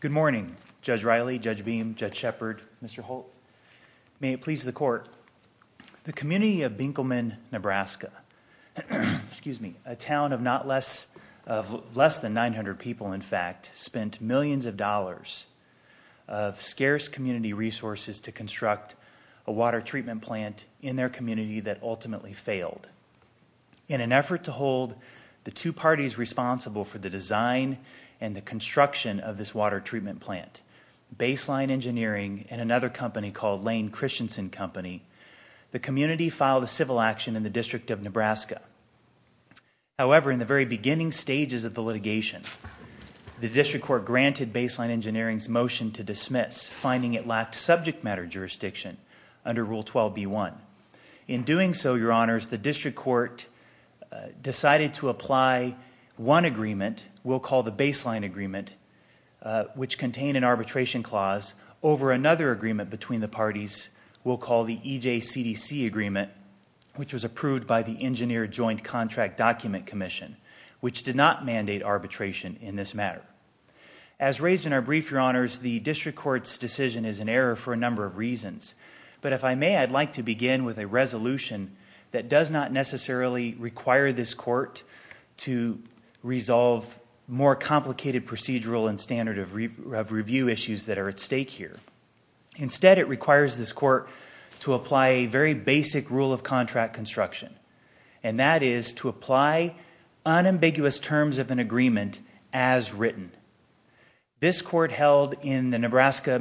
Good morning, Judge Riley, Judge Beam, Judge Shepard, Mr. Holt. May it please the Court. The community of Benkelman, NE, a town of less than 900 people, in fact, spent millions of dollars of scarce community resources to construct a water treatment plant in their community that ultimately failed. In an effort to hold the two parties responsible for the design and the construction of this water treatment plant, Baseline Engineering and another company called Lane-Christensen Company, the community filed a civil action in the District of Nebraska. However, in the very beginning stages of the litigation, the District Court granted Baseline Engineering's motion to dismiss, finding it lacked subject matter jurisdiction under Rule 12b-1. In doing so, Your Honors, the District Court decided to apply one agreement, we'll call the Baseline Agreement, which contained an arbitration clause, over another agreement between the parties we'll call the EJCDC Agreement, which was approved by the Engineer Joint Contract Document Commission, which did not mandate arbitration in this matter. As raised in our brief, Your Honors, but if I may, I'd like to begin with a resolution that does not necessarily require this court to resolve more complicated procedural and standard of review issues that are at stake here. Instead, it requires this court to apply a very basic rule of contract construction, and that is to apply unambiguous terms of an agreement as written. This court held in the Nebraska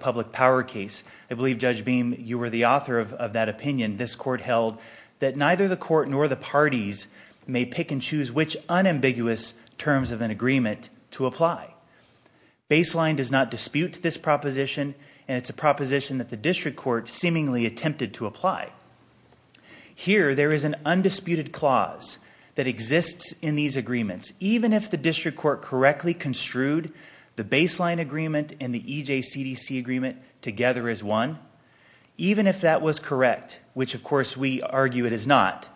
Public Power case, I believe, Judge Beam, you were the author of that opinion, this court held that neither the court nor the parties may pick and choose which unambiguous terms of an agreement to apply. Baseline does not dispute this proposition, and it's a proposition that the District Court seemingly attempted to apply. Here, there is an undisputed clause that exists in these agreements, even if the District Court correctly construed the Baseline Agreement and the EJCDC Agreement together as one, even if that was correct, which of course we argue it is not,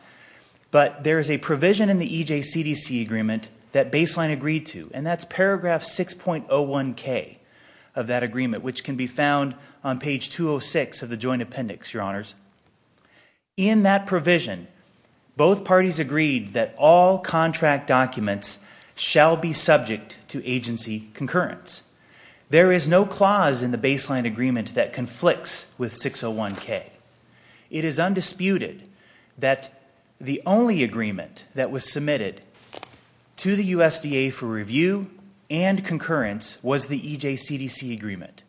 but there is a provision in the EJCDC Agreement that Baseline agreed to, and that's paragraph 6.01k of that agreement, which can be found on page 206 of the Joint Appendix, Your Honors. In that provision, both parties agreed that all contract documents shall be subject to agency concurrence. There is no clause in the Baseline Agreement that conflicts with 6.01k. It is undisputed that the only agreement that was submitted to the USDA for review and concurrence was the EJCDC Agreement.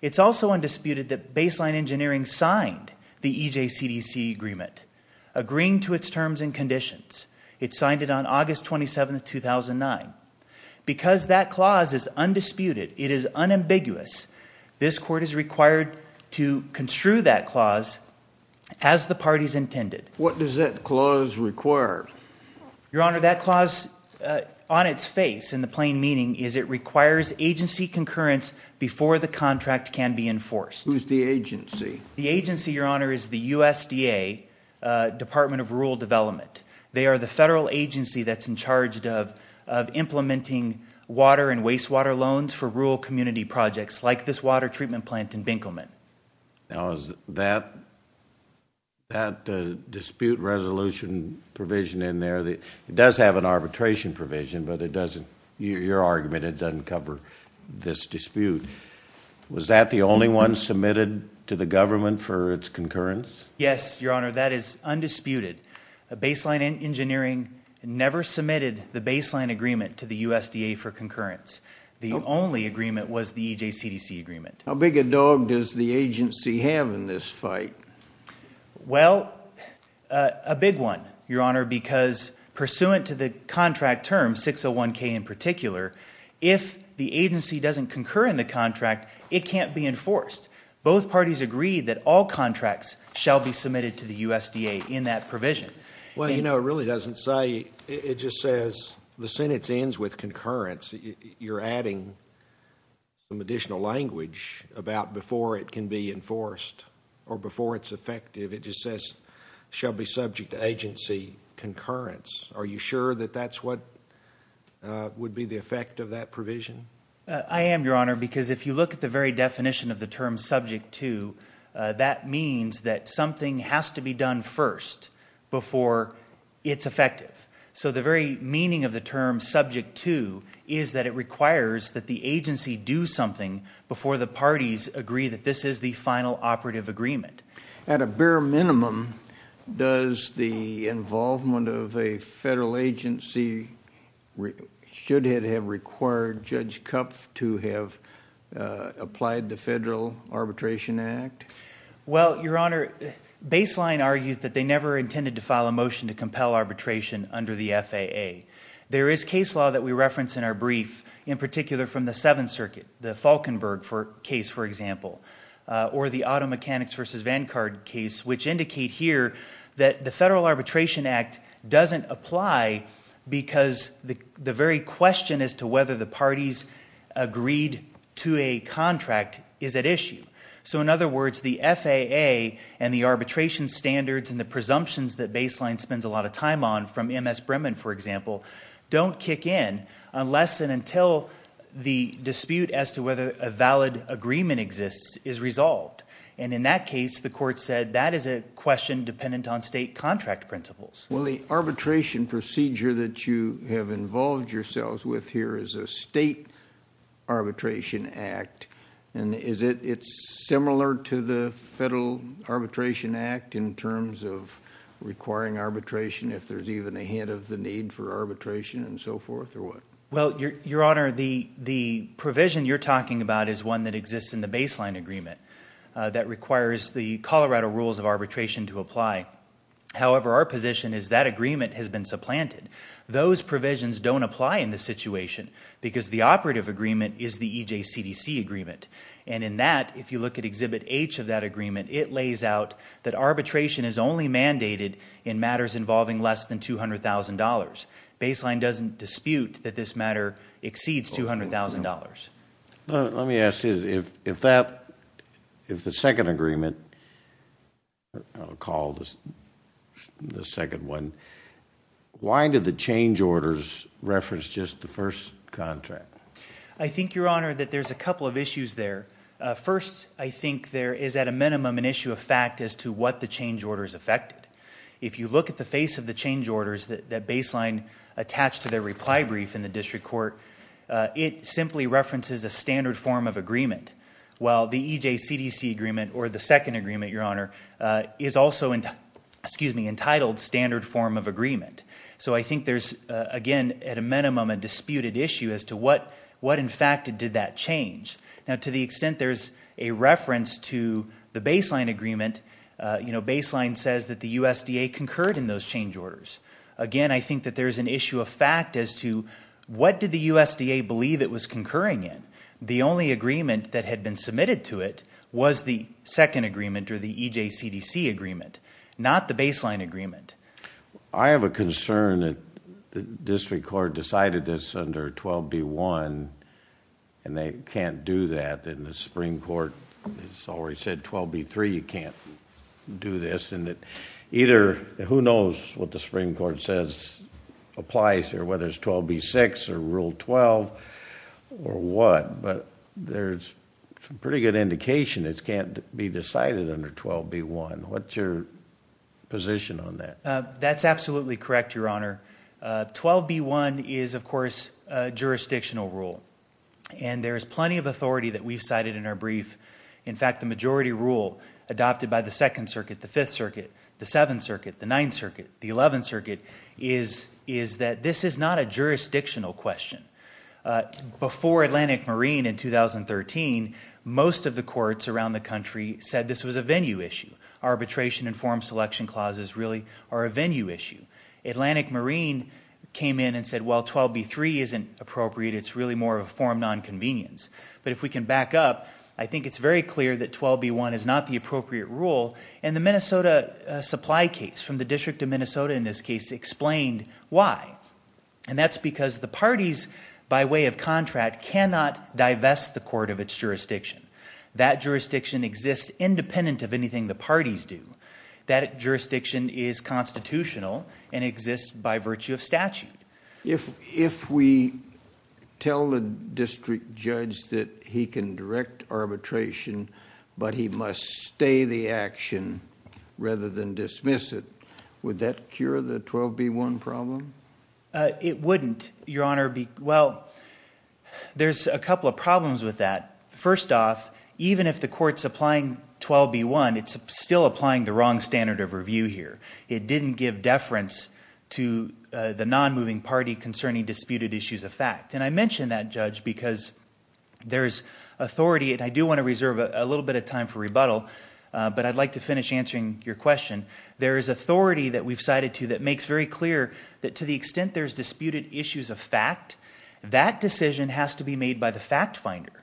It's also undisputed that Baseline Engineering signed the EJCDC Agreement, agreeing to its terms and conditions. It signed it on August 27, 2009. Because that clause is undisputed, it is unambiguous, this Court is required to construe that clause as the parties intended. What does that clause require? Your Honor, that clause on its face, in the plain meaning, is it requires agency concurrence before the contract can be enforced. Who's the agency? The agency, Your Honor, is the USDA Department of Rural Development. They are the federal agency that's in charge of implementing water and wastewater loans for rural community projects like this water treatment plant in Binkleman. Now, is that dispute resolution provision in there, it does have an arbitration provision, but it doesn't, your argument, it doesn't cover this dispute. Was that the only one submitted to the government for its concurrence? Yes, Your Honor, that is undisputed. Baseline Engineering never submitted the Baseline Agreement to the USDA for concurrence. The only agreement was the EJCDC Agreement. How big a dog does the agency have in this fight? Well, a big one, Your Honor, because pursuant to the contract term, 601K in particular, if the agency doesn't concur in the contract, it can't be enforced. Both parties agreed that all contracts shall be submitted to the USDA in that provision. Well, you know, it really doesn't say. It just says the sentence ends with concurrence. You're adding some additional language about before it can be enforced or before it's effective. It just says shall be subject to agency concurrence. Are you sure that that's what would be the effect of that provision? I am, Your Honor, because if you look at the very definition of the term subject to, that means that something has to be done first before it's effective. So the very meaning of the term subject to is that it requires that the agency do something before the parties agree that this is the final operative agreement. At a bare minimum, does the involvement of a federal agency should it have required Judge Kupf to have applied the Federal Arbitration Act? Well, Your Honor, Baseline argues that they never intended to file a motion to compel arbitration under the FAA. There is case law that we reference in our brief, in particular from the Seventh Circuit, the Falkenberg case, for example, or the Auto Mechanics v. Vancard case, which indicate here that the Federal Arbitration Act doesn't apply because the very question as to whether the parties agreed to a contract is at issue. So in other words, the FAA and the arbitration standards and the presumptions that Baseline spends a lot of time on, from M.S. Bremen, for example, don't kick in unless and until the dispute as to whether a valid agreement exists is resolved. And in that case, the Court said that is a question dependent on state contract principles. Well, the arbitration procedure that you have involved yourselves with here is a state arbitration act. And is it similar to the Federal Arbitration Act in terms of requiring arbitration if there's even a hint of the need for arbitration and so forth, or what? Well, Your Honor, the provision you're talking about is one that exists in the Baseline agreement that requires the Colorado Rules of Arbitration to apply. However, our position is that agreement has been supplanted. Those provisions don't apply in this situation because the operative agreement is the EJCDC agreement. It lays out that arbitration is only mandated in matters involving less than $200,000. Baseline doesn't dispute that this matter exceeds $200,000. Let me ask you this. If the second agreement, I'll call the second one, why did the change orders reference just the first contract? I think, Your Honor, that there's a couple of issues there. First, I think there is at a minimum an issue of fact as to what the change orders affected. If you look at the face of the change orders that Baseline attached to their reply brief in the district court, it simply references a standard form of agreement, while the EJCDC agreement, or the second agreement, Your Honor, is also entitled standard form of agreement. So I think there's, again, at a minimum a disputed issue as to what, in fact, did that change. Now, to the extent there's a reference to the Baseline agreement, Baseline says that the USDA concurred in those change orders. Again, I think that there's an issue of fact as to what did the USDA believe it was concurring in. The only agreement that had been submitted to it was the second agreement, or the EJCDC agreement, not the Baseline agreement. I have a concern that the district court decided this under 12B1 and they can't do that. And the Supreme Court has already said 12B3, you can't do this. And either, who knows what the Supreme Court says applies or whether it's 12B6 or Rule 12 or what, but there's some pretty good indication it can't be decided under 12B1. What's your position on that? That's absolutely correct, Your Honor. 12B1 is, of course, a jurisdictional rule. And there is plenty of authority that we've cited in our brief. In fact, the majority rule adopted by the Second Circuit, the Fifth Circuit, the Seventh Circuit, the Ninth Circuit, the Eleventh Circuit, is that this is not a jurisdictional question. Before Atlantic Marine in 2013, most of the courts around the country said this was a venue issue. Arbitration and form selection clauses really are a venue issue. Atlantic Marine came in and said, well, 12B3 isn't appropriate. It's really more of a form nonconvenience. But if we can back up, I think it's very clear that 12B1 is not the appropriate rule. And the Minnesota supply case from the District of Minnesota, in this case, explained why. And that's because the parties, by way of contract, cannot divest the court of its jurisdiction. That jurisdiction exists independent of anything the parties do. That jurisdiction is constitutional and exists by virtue of statute. If we tell the district judge that he can direct arbitration, but he must stay the action rather than dismiss it, would that cure the 12B1 problem? It wouldn't, Your Honor. Well, there's a couple of problems with that. First off, even if the court's applying 12B1, it's still applying the wrong standard of review here. It didn't give deference to the nonmoving party concerning disputed issues of fact. And I mention that, Judge, because there's authority, and I do want to reserve a little bit of time for rebuttal, but I'd like to finish answering your question. There is authority that we've cited to that makes very clear that to the extent there's disputed issues of fact, that decision has to be made by the fact finder.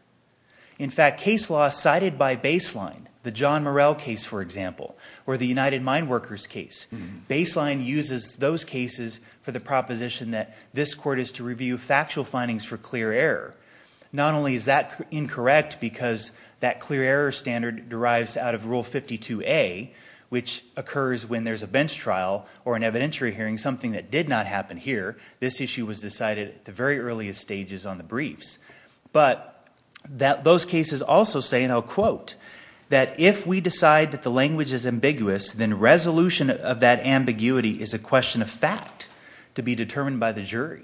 In fact, case law cited by Baseline, the John Morrell case, for example, or the United Mine Workers case, Baseline uses those cases for the proposition that this court is to review factual findings for clear error. Not only is that incorrect because that clear error standard derives out of Rule 52A, which occurs when there's a bench trial or an evidentiary hearing, something that did not happen here. This issue was decided at the very earliest stages on the briefs. But those cases also say, and I'll quote, that if we decide that the language is ambiguous, then resolution of that ambiguity is a question of fact to be determined by the jury.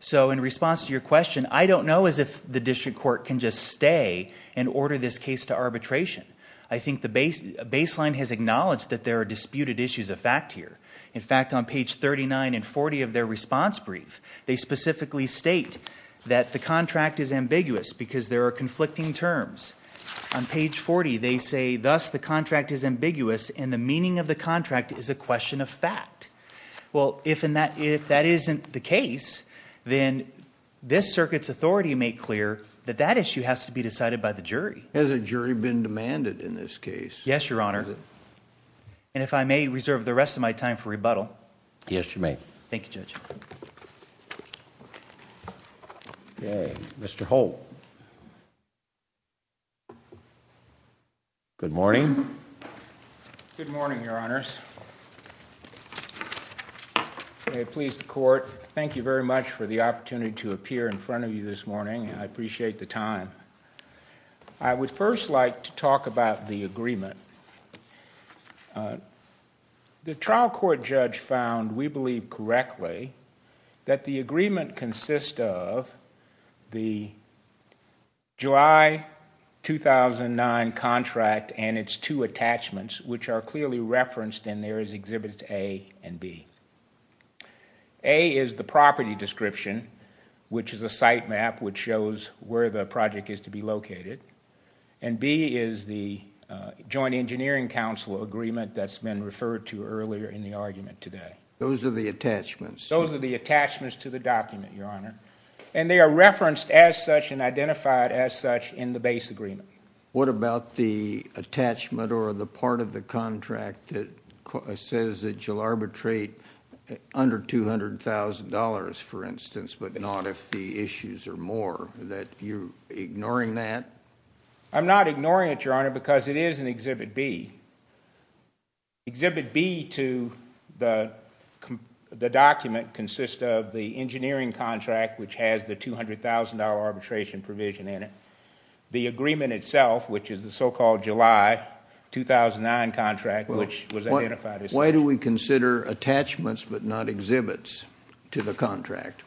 So in response to your question, I don't know as if the district court can just stay and order this case to arbitration. I think Baseline has acknowledged that there are disputed issues of fact here. In fact, on page 39 and 40 of their response brief, they specifically state that the contract is ambiguous because there are conflicting terms. On page 40, they say, thus, the contract is ambiguous and the meaning of the contract is a question of fact. Well, if that isn't the case, then this circuit's authority may clear that that issue has to be decided by the jury. Has a jury been demanded in this case? Yes, Your Honor. And if I may reserve the rest of my time for rebuttal. Yes, you may. Thank you, Judge. Okay, Mr. Holt. Good morning. Good morning, Your Honors. May it please the court, thank you very much for the opportunity to appear in front of you this morning. I appreciate the time. I would first like to talk about the agreement. The trial court judge found, we believe correctly, that the agreement consists of the July 2009 contract and its two attachments, which are clearly referenced in there as Exhibits A and B. A is the property description, which is a site map which shows where the project is to be located, and B is the Joint Engineering Council agreement that's been referred to earlier in the argument today. Those are the attachments? Those are the attachments to the document, Your Honor. And they are referenced as such and identified as such in the base agreement. What about the attachment or the part of the contract that says that you'll arbitrate under $200,000, for instance, but not if the issues are more? That you're ignoring that? I'm not ignoring it, Your Honor, because it is in Exhibit B. Exhibit B to the document consists of the engineering contract, which has the $200,000 arbitration provision in it. The agreement itself, which is the so-called July 2009 contract, which was identified as such. Why do we consider attachments but not exhibits to the contract?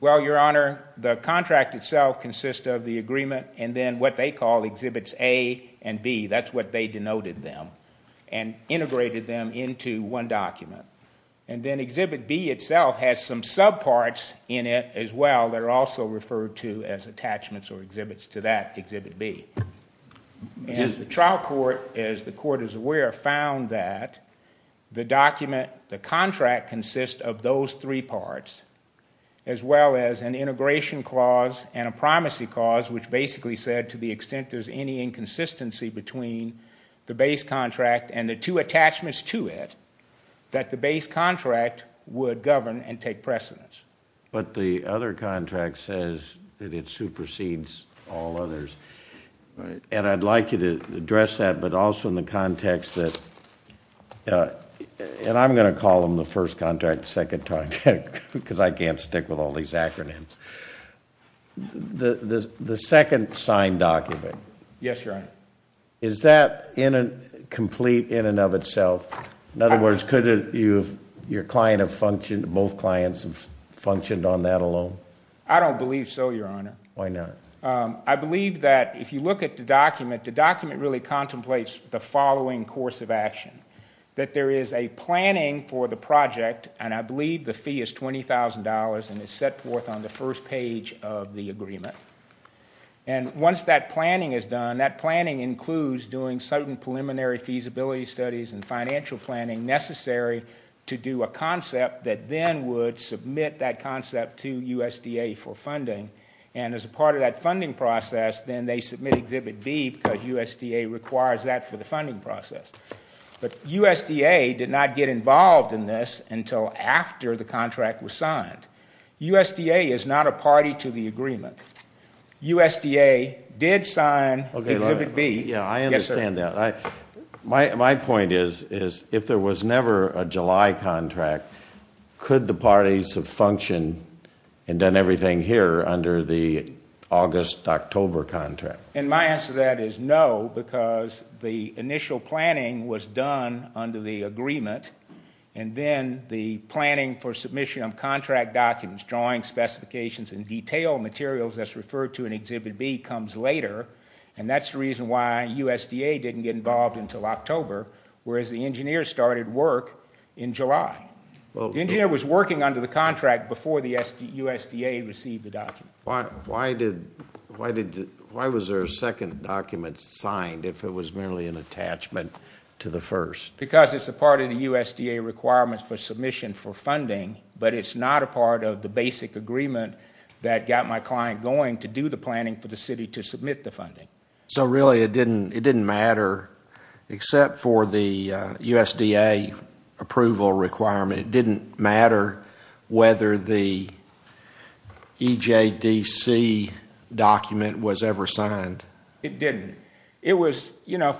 Well, Your Honor, the contract itself consists of the agreement and then what they call Exhibits A and B. That's what they denoted them and integrated them into one document. And then Exhibit B itself has some subparts in it as well that are also referred to as attachments or exhibits to that Exhibit B. And the trial court, as the court is aware, found that the contract consists of those three parts as well as an integration clause and a primacy clause, which basically said to the extent there's any inconsistency between the base contract and the two attachments to it, that the base contract would govern and take precedence. But the other contract says that it supersedes all others. And I'd like you to address that, but also in the context that, and I'm going to call them the first contract, second contract, because I can't stick with all these acronyms. The second signed document, is that complete in and of itself? In other words, could your client have functioned, both clients have functioned on that alone? I don't believe so, Your Honor. Why not? I believe that if you look at the document, the document really contemplates the following course of action. That there is a planning for the project, and I believe the fee is $20,000 and is set forth on the first page of the agreement. And once that planning is done, that planning includes doing certain preliminary feasibility studies and financial planning necessary to do a concept that then would submit that concept to USDA for funding. And as a part of that funding process, then they submit Exhibit B because USDA requires that for the funding process. But USDA did not get involved in this until after the contract was signed. USDA is not a party to the agreement. USDA did sign Exhibit B. Yeah, I understand that. My point is, if there was never a July contract, could the parties have functioned and done everything here under the August-October contract? And my answer to that is no, because the initial planning was done under the agreement, and then the planning for submission of contract documents, drawing specifications and detailed materials, as referred to in Exhibit B, comes later, and that's the reason why USDA didn't get involved until October, whereas the engineers started work in July. The engineer was working under the contract before the USDA received the document. Why was there a second document signed if it was merely an attachment to the first? Because it's a part of the USDA requirements for submission for funding, but it's not a part of the basic agreement that got my client going to do the planning for the city to submit the funding. So really it didn't matter, except for the USDA approval requirement, it didn't matter whether the EJDC document was ever signed? It didn't. It was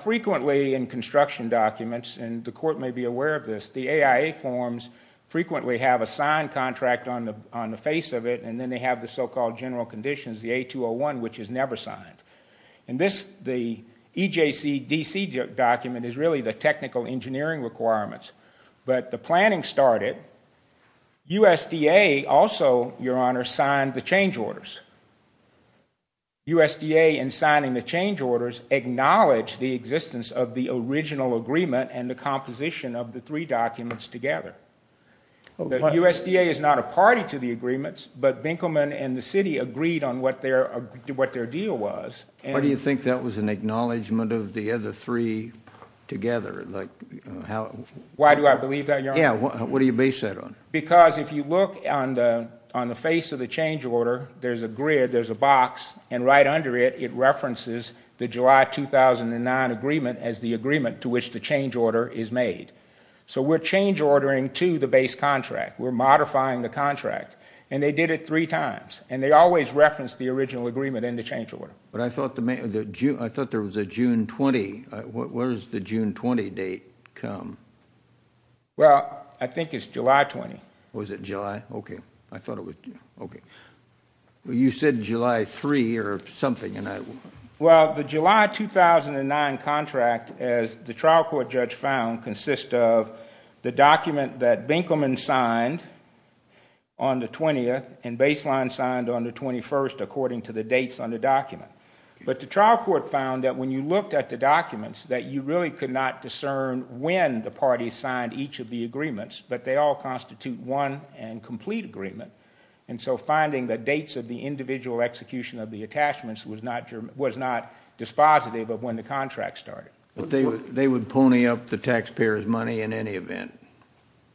frequently in construction documents, and the court may be aware of this, the AIA forms frequently have a signed contract on the face of it, and then they have the so-called general conditions, the A201, which is never signed. The EJCDC document is really the technical engineering requirements, but the planning started. USDA also, Your Honor, signed the change orders. USDA, in signing the change orders, acknowledged the existence of the original agreement and the composition of the three documents together. The USDA is not a party to the agreements, but Binkleman and the city agreed on what their deal was. Why do you think that was an acknowledgment of the other three together? Why do I believe that, Your Honor? Yeah, what do you base that on? Because if you look on the face of the change order, there's a grid, there's a box, and right under it it references the July 2009 agreement as the agreement to which the change order is made. So we're change ordering to the base contract. We're modifying the contract. And they did it three times, and they always referenced the original agreement in the change order. But I thought there was a June 20. Where does the June 20 date come? Well, I think it's July 20. Was it July? Okay. I thought it was. Okay. You said July 3 or something. Well, the July 2009 contract, as the trial court judge found, consists of the document that Binkleman signed on the 20th and Baseline signed on the 21st according to the dates on the document. But the trial court found that when you looked at the documents that you really could not discern when the parties signed each of the agreements, but they all constitute one and complete agreement. And so finding the dates of the individual execution of the attachments was not dispositive of when the contract started. But they would pony up the taxpayer's money in any event.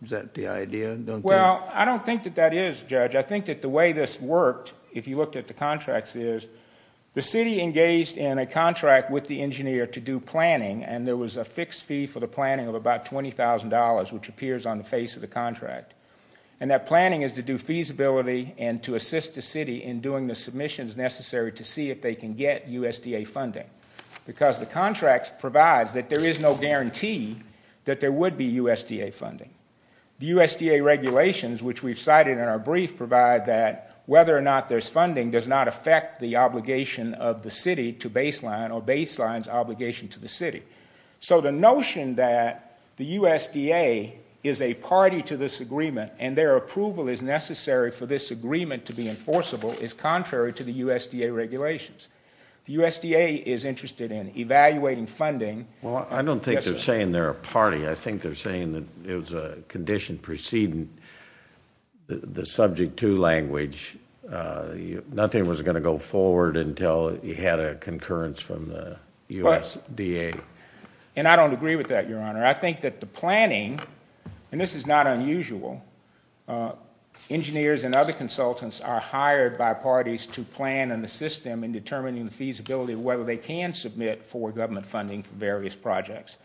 Is that the idea? Well, I don't think that that is, Judge. I think that the way this worked, if you looked at the contracts, is the city engaged in a contract with the engineer to do planning, and there was a fixed fee for the planning of about $20,000, which appears on the face of the contract. And that planning is to do feasibility and to assist the city in doing the submissions necessary to see if they can get USDA funding. Because the contract provides that there is no guarantee that there would be USDA funding. The USDA regulations, which we've cited in our brief, provide that whether or not there's funding does not affect the obligation of the city to Baseline or Baseline's obligation to the city. So the notion that the USDA is a party to this agreement and their approval is necessary for this agreement to be enforceable is contrary to the USDA regulations. The USDA is interested in evaluating funding. Well, I don't think they're saying they're a party. I think they're saying that it was a condition preceding the Subject 2 language. Nothing was going to go forward until you had a concurrence from the USDA. And I don't agree with that, Your Honor. I think that the planning, and this is not unusual, engineers and other consultants are hired by parties to plan and assist them in determining the feasibility of whether they can submit for government funding for various projects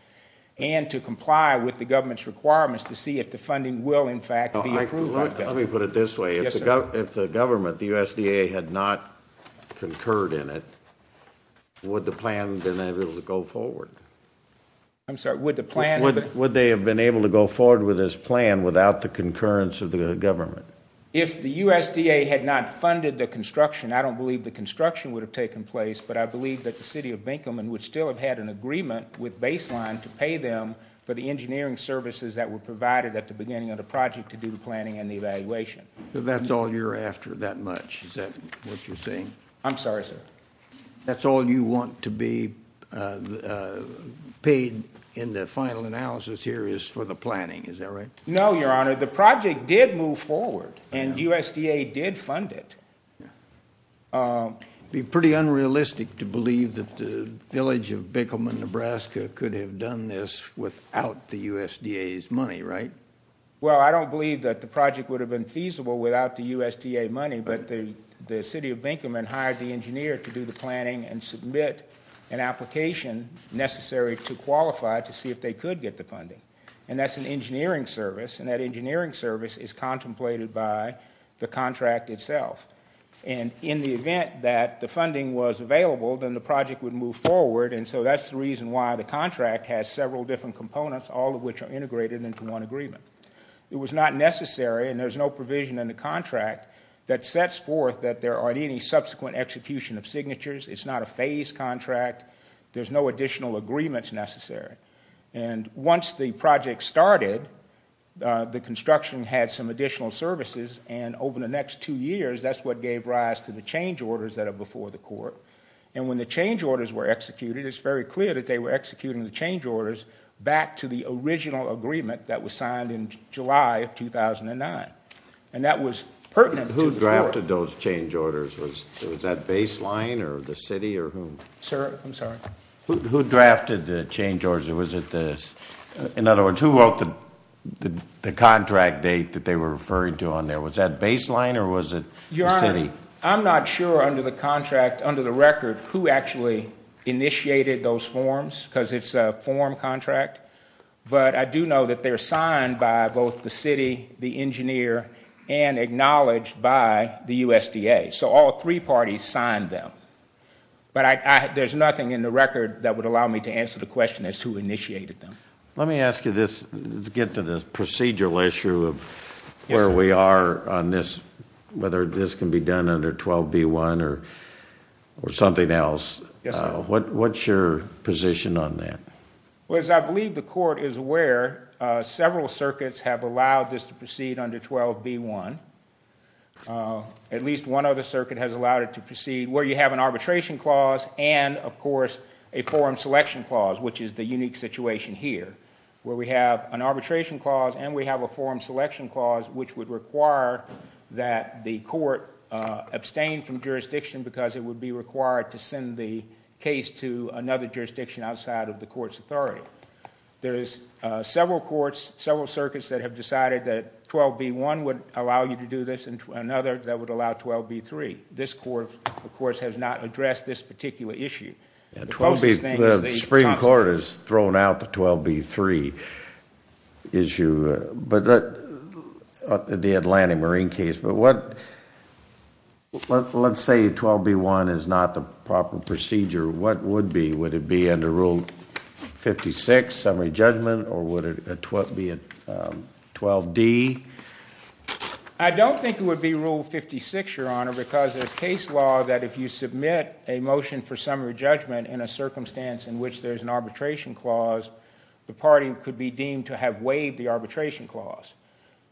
and to comply with the government's requirements to see if the funding will, in fact, be approved by government. Let me put it this way. Yes, sir. If the government, the USDA, had not concurred in it, would the plan have been able to go forward? I'm sorry, would the plan have been... Would they have been able to go forward with this plan without the concurrence of the government? If the USDA had not funded the construction, I don't believe the construction would have taken place, but I believe that the city of Binkelman would still have had an agreement with Baseline to pay them for the engineering services that were provided at the beginning of the project to do the planning and the evaluation. That's all you're after, that much? Is that what you're saying? I'm sorry, sir. That's all you want to be paid in the final analysis here is for the planning, is that right? No, Your Honor. The project did move forward, and USDA did fund it. It would be pretty unrealistic to believe that the village of Binkelman, Nebraska, could have done this without the USDA's money, right? Well, I don't believe that the project would have been feasible without the USDA money, but the city of Binkelman hired the engineer to do the planning and submit an application necessary to qualify to see if they could get the funding, and that's an engineering service, and that engineering service is contemplated by the contract itself, and in the event that the funding was available, then the project would move forward, and so that's the reason why the contract has several different components, all of which are integrated into one agreement. It was not necessary, and there's no provision in the contract that sets forth that there aren't any subsequent execution of signatures. It's not a phased contract. There's no additional agreements necessary, and once the project started, the construction had some additional services, and over the next two years, that's what gave rise to the change orders that are before the court, and when the change orders were executed, it's very clear that they were executing the change orders back to the original agreement that was signed in July of 2009, and that was pertinent to the court. Who drafted those change orders? Was that baseline or the city or whom? Sir, I'm sorry. Who drafted the change orders? In other words, who wrote the contract date that they were referring to on there? Was that baseline or was it the city? Your Honor, I'm not sure under the contract, under the record, who actually initiated those forms because it's a form contract, but I do know that they're signed by both the city, the engineer, and acknowledged by the USDA, so all three parties signed them, but there's nothing in the record that would allow me to answer the question as to who initiated them. Let me ask you this. Let's get to the procedural issue of where we are on this, whether this can be done under 12b-1 or something else. Yes, sir. What's your position on that? Well, as I believe the court is aware, under 12b-1. At least one other circuit has allowed it to proceed where you have an arbitration clause and, of course, a forum selection clause, which is the unique situation here where we have an arbitration clause and we have a forum selection clause which would require that the court abstain from jurisdiction because it would be required to send the case to another jurisdiction outside of the court's authority. There is several courts, several circuits that have decided that 12b-1 would allow you to do this and another that would allow 12b-3. This court, of course, has not addressed this particular issue. The Supreme Court has thrown out the 12b-3 issue, the Atlantic Marine case, but let's say 12b-1 is not the proper procedure. What would it be? Would it be under Rule 56, summary judgment, or would it be 12d? I don't think it would be Rule 56, Your Honor, because there's case law that if you submit a motion for summary judgment in a circumstance in which there's an arbitration clause, the party could be deemed to have waived the arbitration clause.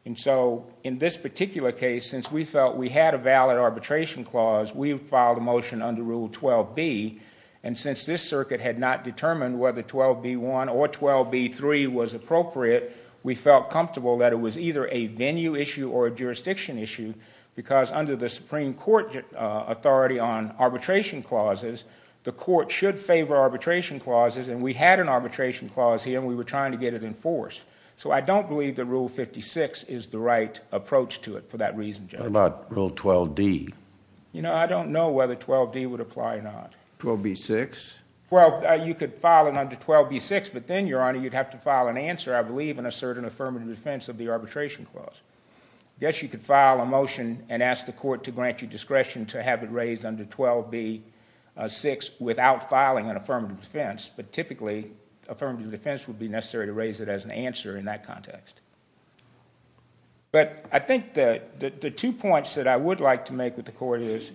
And so in this particular case, since we felt we had a valid arbitration clause, we filed a motion under Rule 12b, and since this circuit had not determined whether 12b-1 or 12b-3 was appropriate, we felt comfortable that it was either a venue issue or a jurisdiction issue because under the Supreme Court authority on arbitration clauses, the court should favor arbitration clauses, and we had an arbitration clause here and we were trying to get it enforced. So I don't believe that Rule 56 is the right approach to it for that reason, Judge. What about Rule 12d? You know, I don't know whether 12d would apply or not. 12b-6? Well, you could file it under 12b-6, but then, Your Honor, you'd have to file an answer, I believe, in a certain affirmative defense of the arbitration clause. I guess you could file a motion and ask the court to grant you discretion to have it raised under 12b-6 without filing an affirmative defense, but typically affirmative defense would be necessary to raise it as an answer in that context. But I think that the two points that I would like to make with the court is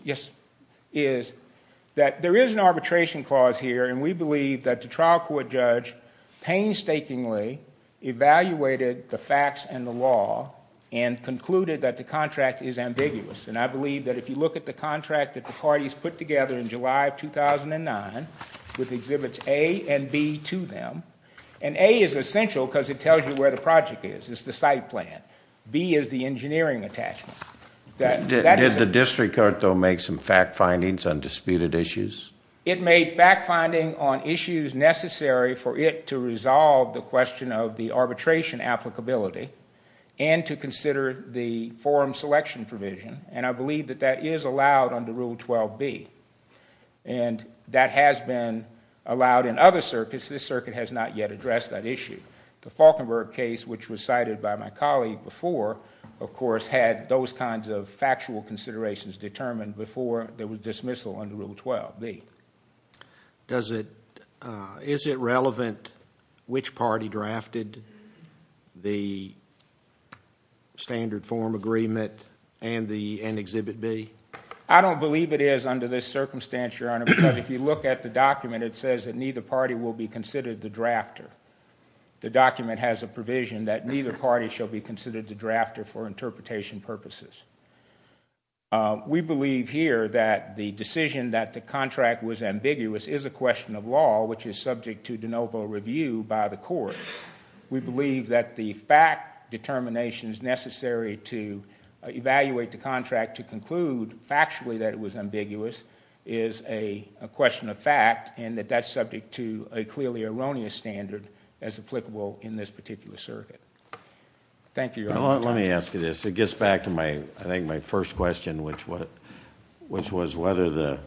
that there is an arbitration clause here and we believe that the trial court judge painstakingly evaluated the facts and the law and concluded that the contract is ambiguous. And I believe that if you look at the contract that the parties put together in July of 2009 with exhibits A and B to them, and A is essential because it tells you where the project is, it's the site plan. B is the engineering attachment. Did the district court, though, make some fact findings on disputed issues? It made fact finding on issues necessary for it to resolve the question of the arbitration applicability and to consider the forum selection provision, and I believe that that is allowed under Rule 12b. And that has been allowed in other circuits. This circuit has not yet addressed that issue. The Falkenberg case, which was cited by my colleague before, of course, had those kinds of factual considerations determined before there was dismissal under Rule 12b. Is it relevant which party drafted the standard forum agreement and exhibit B? I don't believe it is under this circumstance, Your Honor, because if you look at the document, it says that neither party will be considered the drafter. The document has a provision that neither party shall be considered the drafter for interpretation purposes. We believe here that the decision that the contract was ambiguous is a question of law, which is subject to de novo review by the court. We believe that the fact determination is necessary to evaluate the contract to conclude factually that it was ambiguous is a question of fact and that that's subject to a clearly erroneous standard as applicable in this particular circuit. Thank you, Your Honor. Let me ask you this. It gets back to, I think, my first question, which was whether the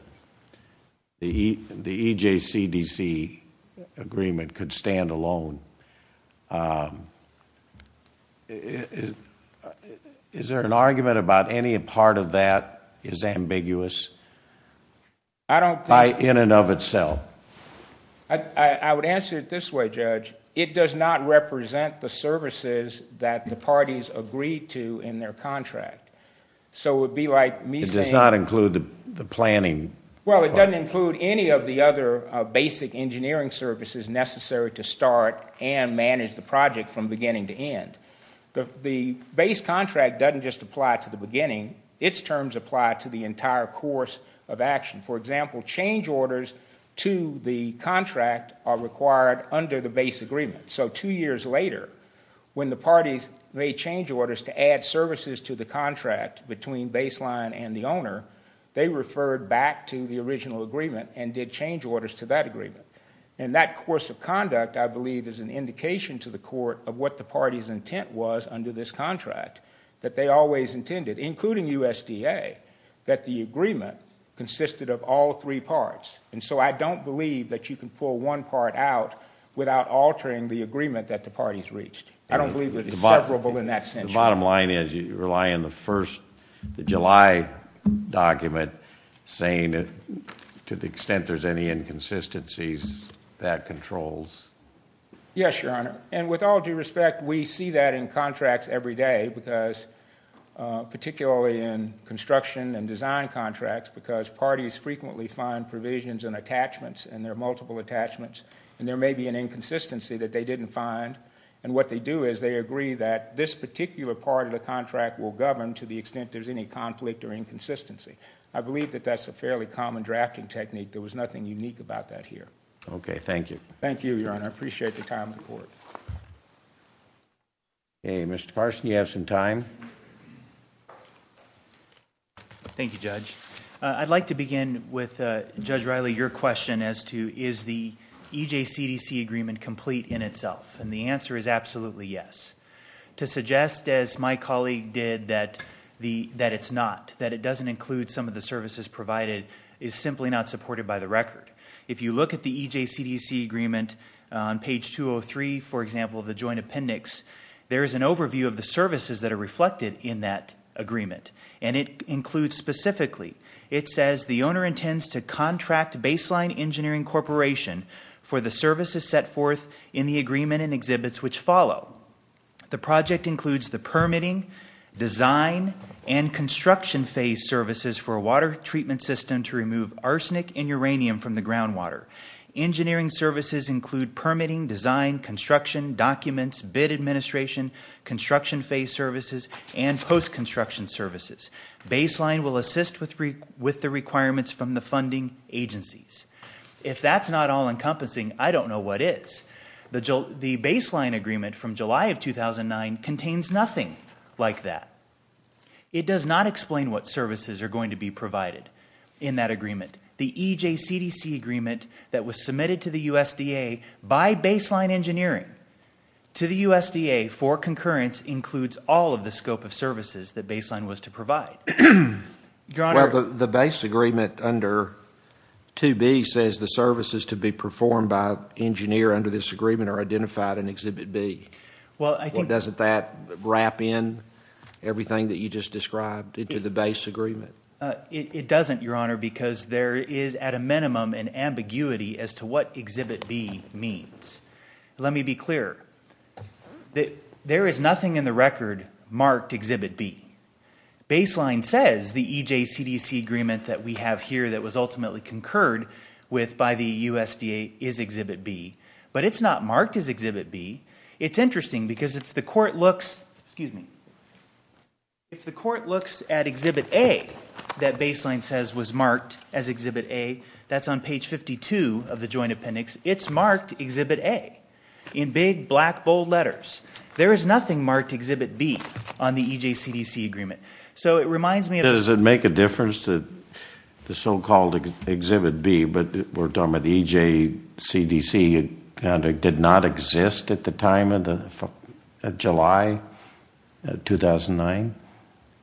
EJCDC agreement could stand alone. Is there an argument about any part of that is ambiguous? I don't think... In and of itself. I would answer it this way, Judge. It does not represent the services that the parties agreed to in their contract. So it would be like me saying... It does not include the planning. Well, it doesn't include any of the other basic engineering services necessary to start and manage the project from beginning to end. The base contract doesn't just apply to the beginning. Its terms apply to the entire course of action. For example, change orders to the contract are required under the base agreement. So two years later, when the parties made change orders to add services to the contract between baseline and the owner, they referred back to the original agreement and did change orders to that agreement. And that course of conduct, I believe, is an indication to the court of what the party's intent was under this contract, that they always intended, including USDA, that the agreement consisted of all three parts. And so I don't believe that you can pull one part out without altering the agreement that the parties reached. I don't believe it's severable in that sense. The bottom line is you rely on the July document saying to the extent there's any inconsistencies, that controls. Yes, Your Honor. And with all due respect, we see that in contracts every day because, particularly in construction and design contracts, because parties frequently find provisions and attachments, and there are multiple attachments, and there may be an inconsistency that they didn't find. And what they do is they agree that this particular part of the contract will govern to the extent there's any conflict or inconsistency. I believe that that's a fairly common drafting technique. There was nothing unique about that here. Okay, thank you. Thank you, Your Honor. I appreciate the time of the court. Okay, Mr. Parson, you have some time. Thank you, Judge. I'd like to begin with, Judge Riley, your question as to is the EJCDC agreement complete in itself? And the answer is absolutely yes. To suggest, as my colleague did, that it's not, that it doesn't include some of the services provided is simply not supported by the record. If you look at the EJCDC agreement on page 203, for example, of the joint appendix, there is an overview of the services that are reflected in that agreement, and it includes specifically, it says, the owner intends to contract Baseline Engineering Corporation for the services set forth in the agreement and exhibits which follow. The project includes the permitting, design, and construction phase services for a water treatment system to remove arsenic and uranium from the groundwater. Engineering services include permitting, design, construction, documents, bid administration, construction phase services, and post-construction services. Baseline will assist with the requirements from the funding agencies. If that's not all-encompassing, I don't know what is. The baseline agreement from July of 2009 contains nothing like that. It does not explain what services are going to be provided in that agreement. The EJCDC agreement that was submitted to the USDA by Baseline Engineering to the USDA for concurrence includes all of the scope of services that Baseline was to provide. Well, the base agreement under 2B says the services to be performed by an engineer under this agreement are identified in Exhibit B. Doesn't that wrap in everything that you just described into the base agreement? It doesn't, Your Honor, because there is, at a minimum, an ambiguity as to what Exhibit B means. Let me be clear. There is nothing in the record marked Exhibit B. Baseline says the EJCDC agreement that we have here that was ultimately concurred with by the USDA is Exhibit B, but it's not marked as Exhibit B. It's interesting because if the court looks at Exhibit A that Baseline says was marked as Exhibit A, that's on page 52 of the joint appendix, it's marked Exhibit A in big, black, bold letters. There is nothing marked Exhibit B on the EJCDC agreement. So it reminds me of the... Does it make a difference that the so-called Exhibit B, but we're talking about the EJCDC, it kind of did not exist at the time of July 2009?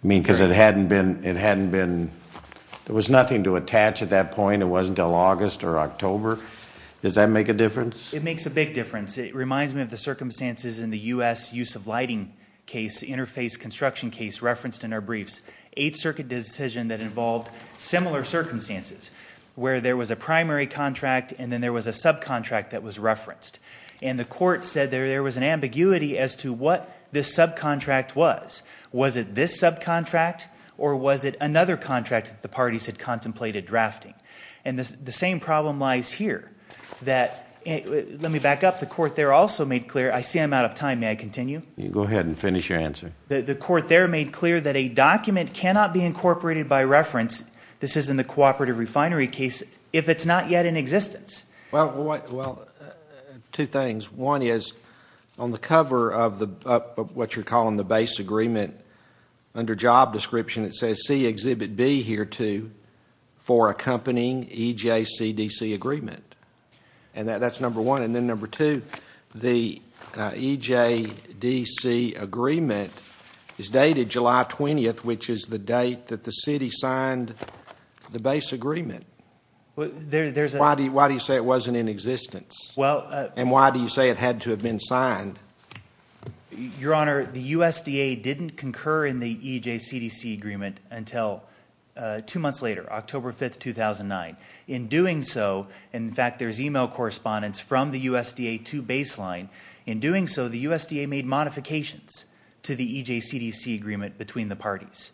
I mean, because it hadn't been... There was nothing to attach at that point. It wasn't until August or October. Does that make a difference? It makes a big difference. It reminds me of the circumstances in the U.S. use of lighting case, interface construction case referenced in our briefs, 8th Circuit decision that involved similar circumstances where there was a primary contract and then there was a subcontract that was referenced. And the court said there was an ambiguity as to what this subcontract was. Was it this subcontract or was it another contract that the parties had contemplated drafting? And the same problem lies here. Let me back up. The court there also made clear... I see I'm out of time. May I continue? Go ahead and finish your answer. The court there made clear that a document cannot be incorporated by reference, this is in the cooperative refinery case, if it's not yet in existence. Well, two things. One is on the cover of what you're calling the base agreement, under job description it says, for accompanying EJCDC agreement. And that's number one. And then number two, the EJCDC agreement is dated July 20th, which is the date that the city signed the base agreement. Why do you say it wasn't in existence? And why do you say it had to have been signed? Your Honor, the USDA didn't concur in the EJCDC agreement until two months later, October 5th, 2009. In doing so, in fact, there's email correspondence from the USDA to Baseline. In doing so, the USDA made modifications to the EJCDC agreement between the parties.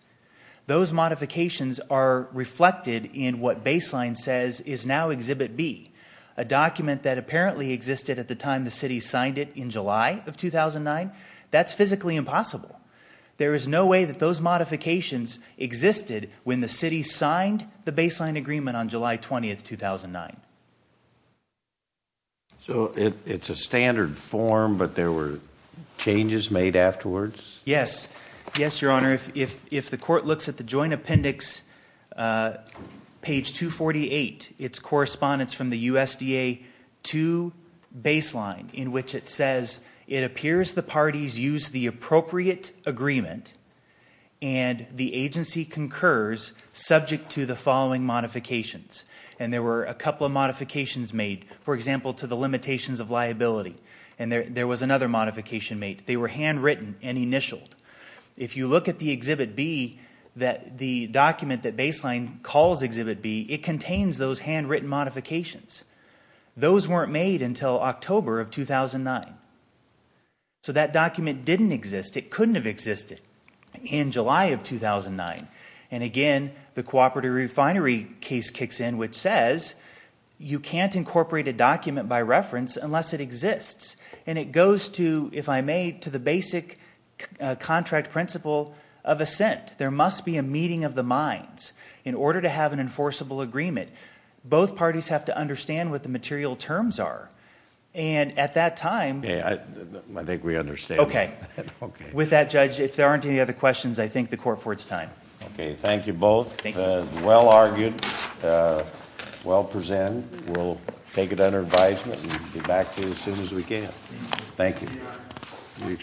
Those modifications are reflected in what Baseline says is now Exhibit B, a document that apparently existed at the time the city signed it in July of 2009. That's physically impossible. There is no way that those modifications existed when the city signed the Baseline agreement on July 20th, 2009. So it's a standard form, but there were changes made afterwards? Yes. Yes, Your Honor. If the court looks at the joint appendix, page 248, it's correspondence from the USDA to Baseline in which it says, it appears the parties used the appropriate agreement and the agency concurs subject to the following modifications. And there were a couple of modifications made, for example, to the limitations of liability. And there was another modification made. They were handwritten and initialed. If you look at the Exhibit B, the document that Baseline calls Exhibit B, it contains those handwritten modifications. Those weren't made until October of 2009. So that document didn't exist. It couldn't have existed in July of 2009. And, again, the cooperative refinery case kicks in, which says you can't incorporate a document by reference unless it exists. And it goes to, if I may, to the basic contract principle of assent. There must be a meeting of the minds in order to have an enforceable agreement. Both parties have to understand what the material terms are. And at that time— I think we understand. Okay. Okay. With that, Judge, if there aren't any other questions, I thank the court for its time. Okay, thank you both. Thank you. Well argued, well presented. We'll take it under advisement and get back to you as soon as we can. Thank you.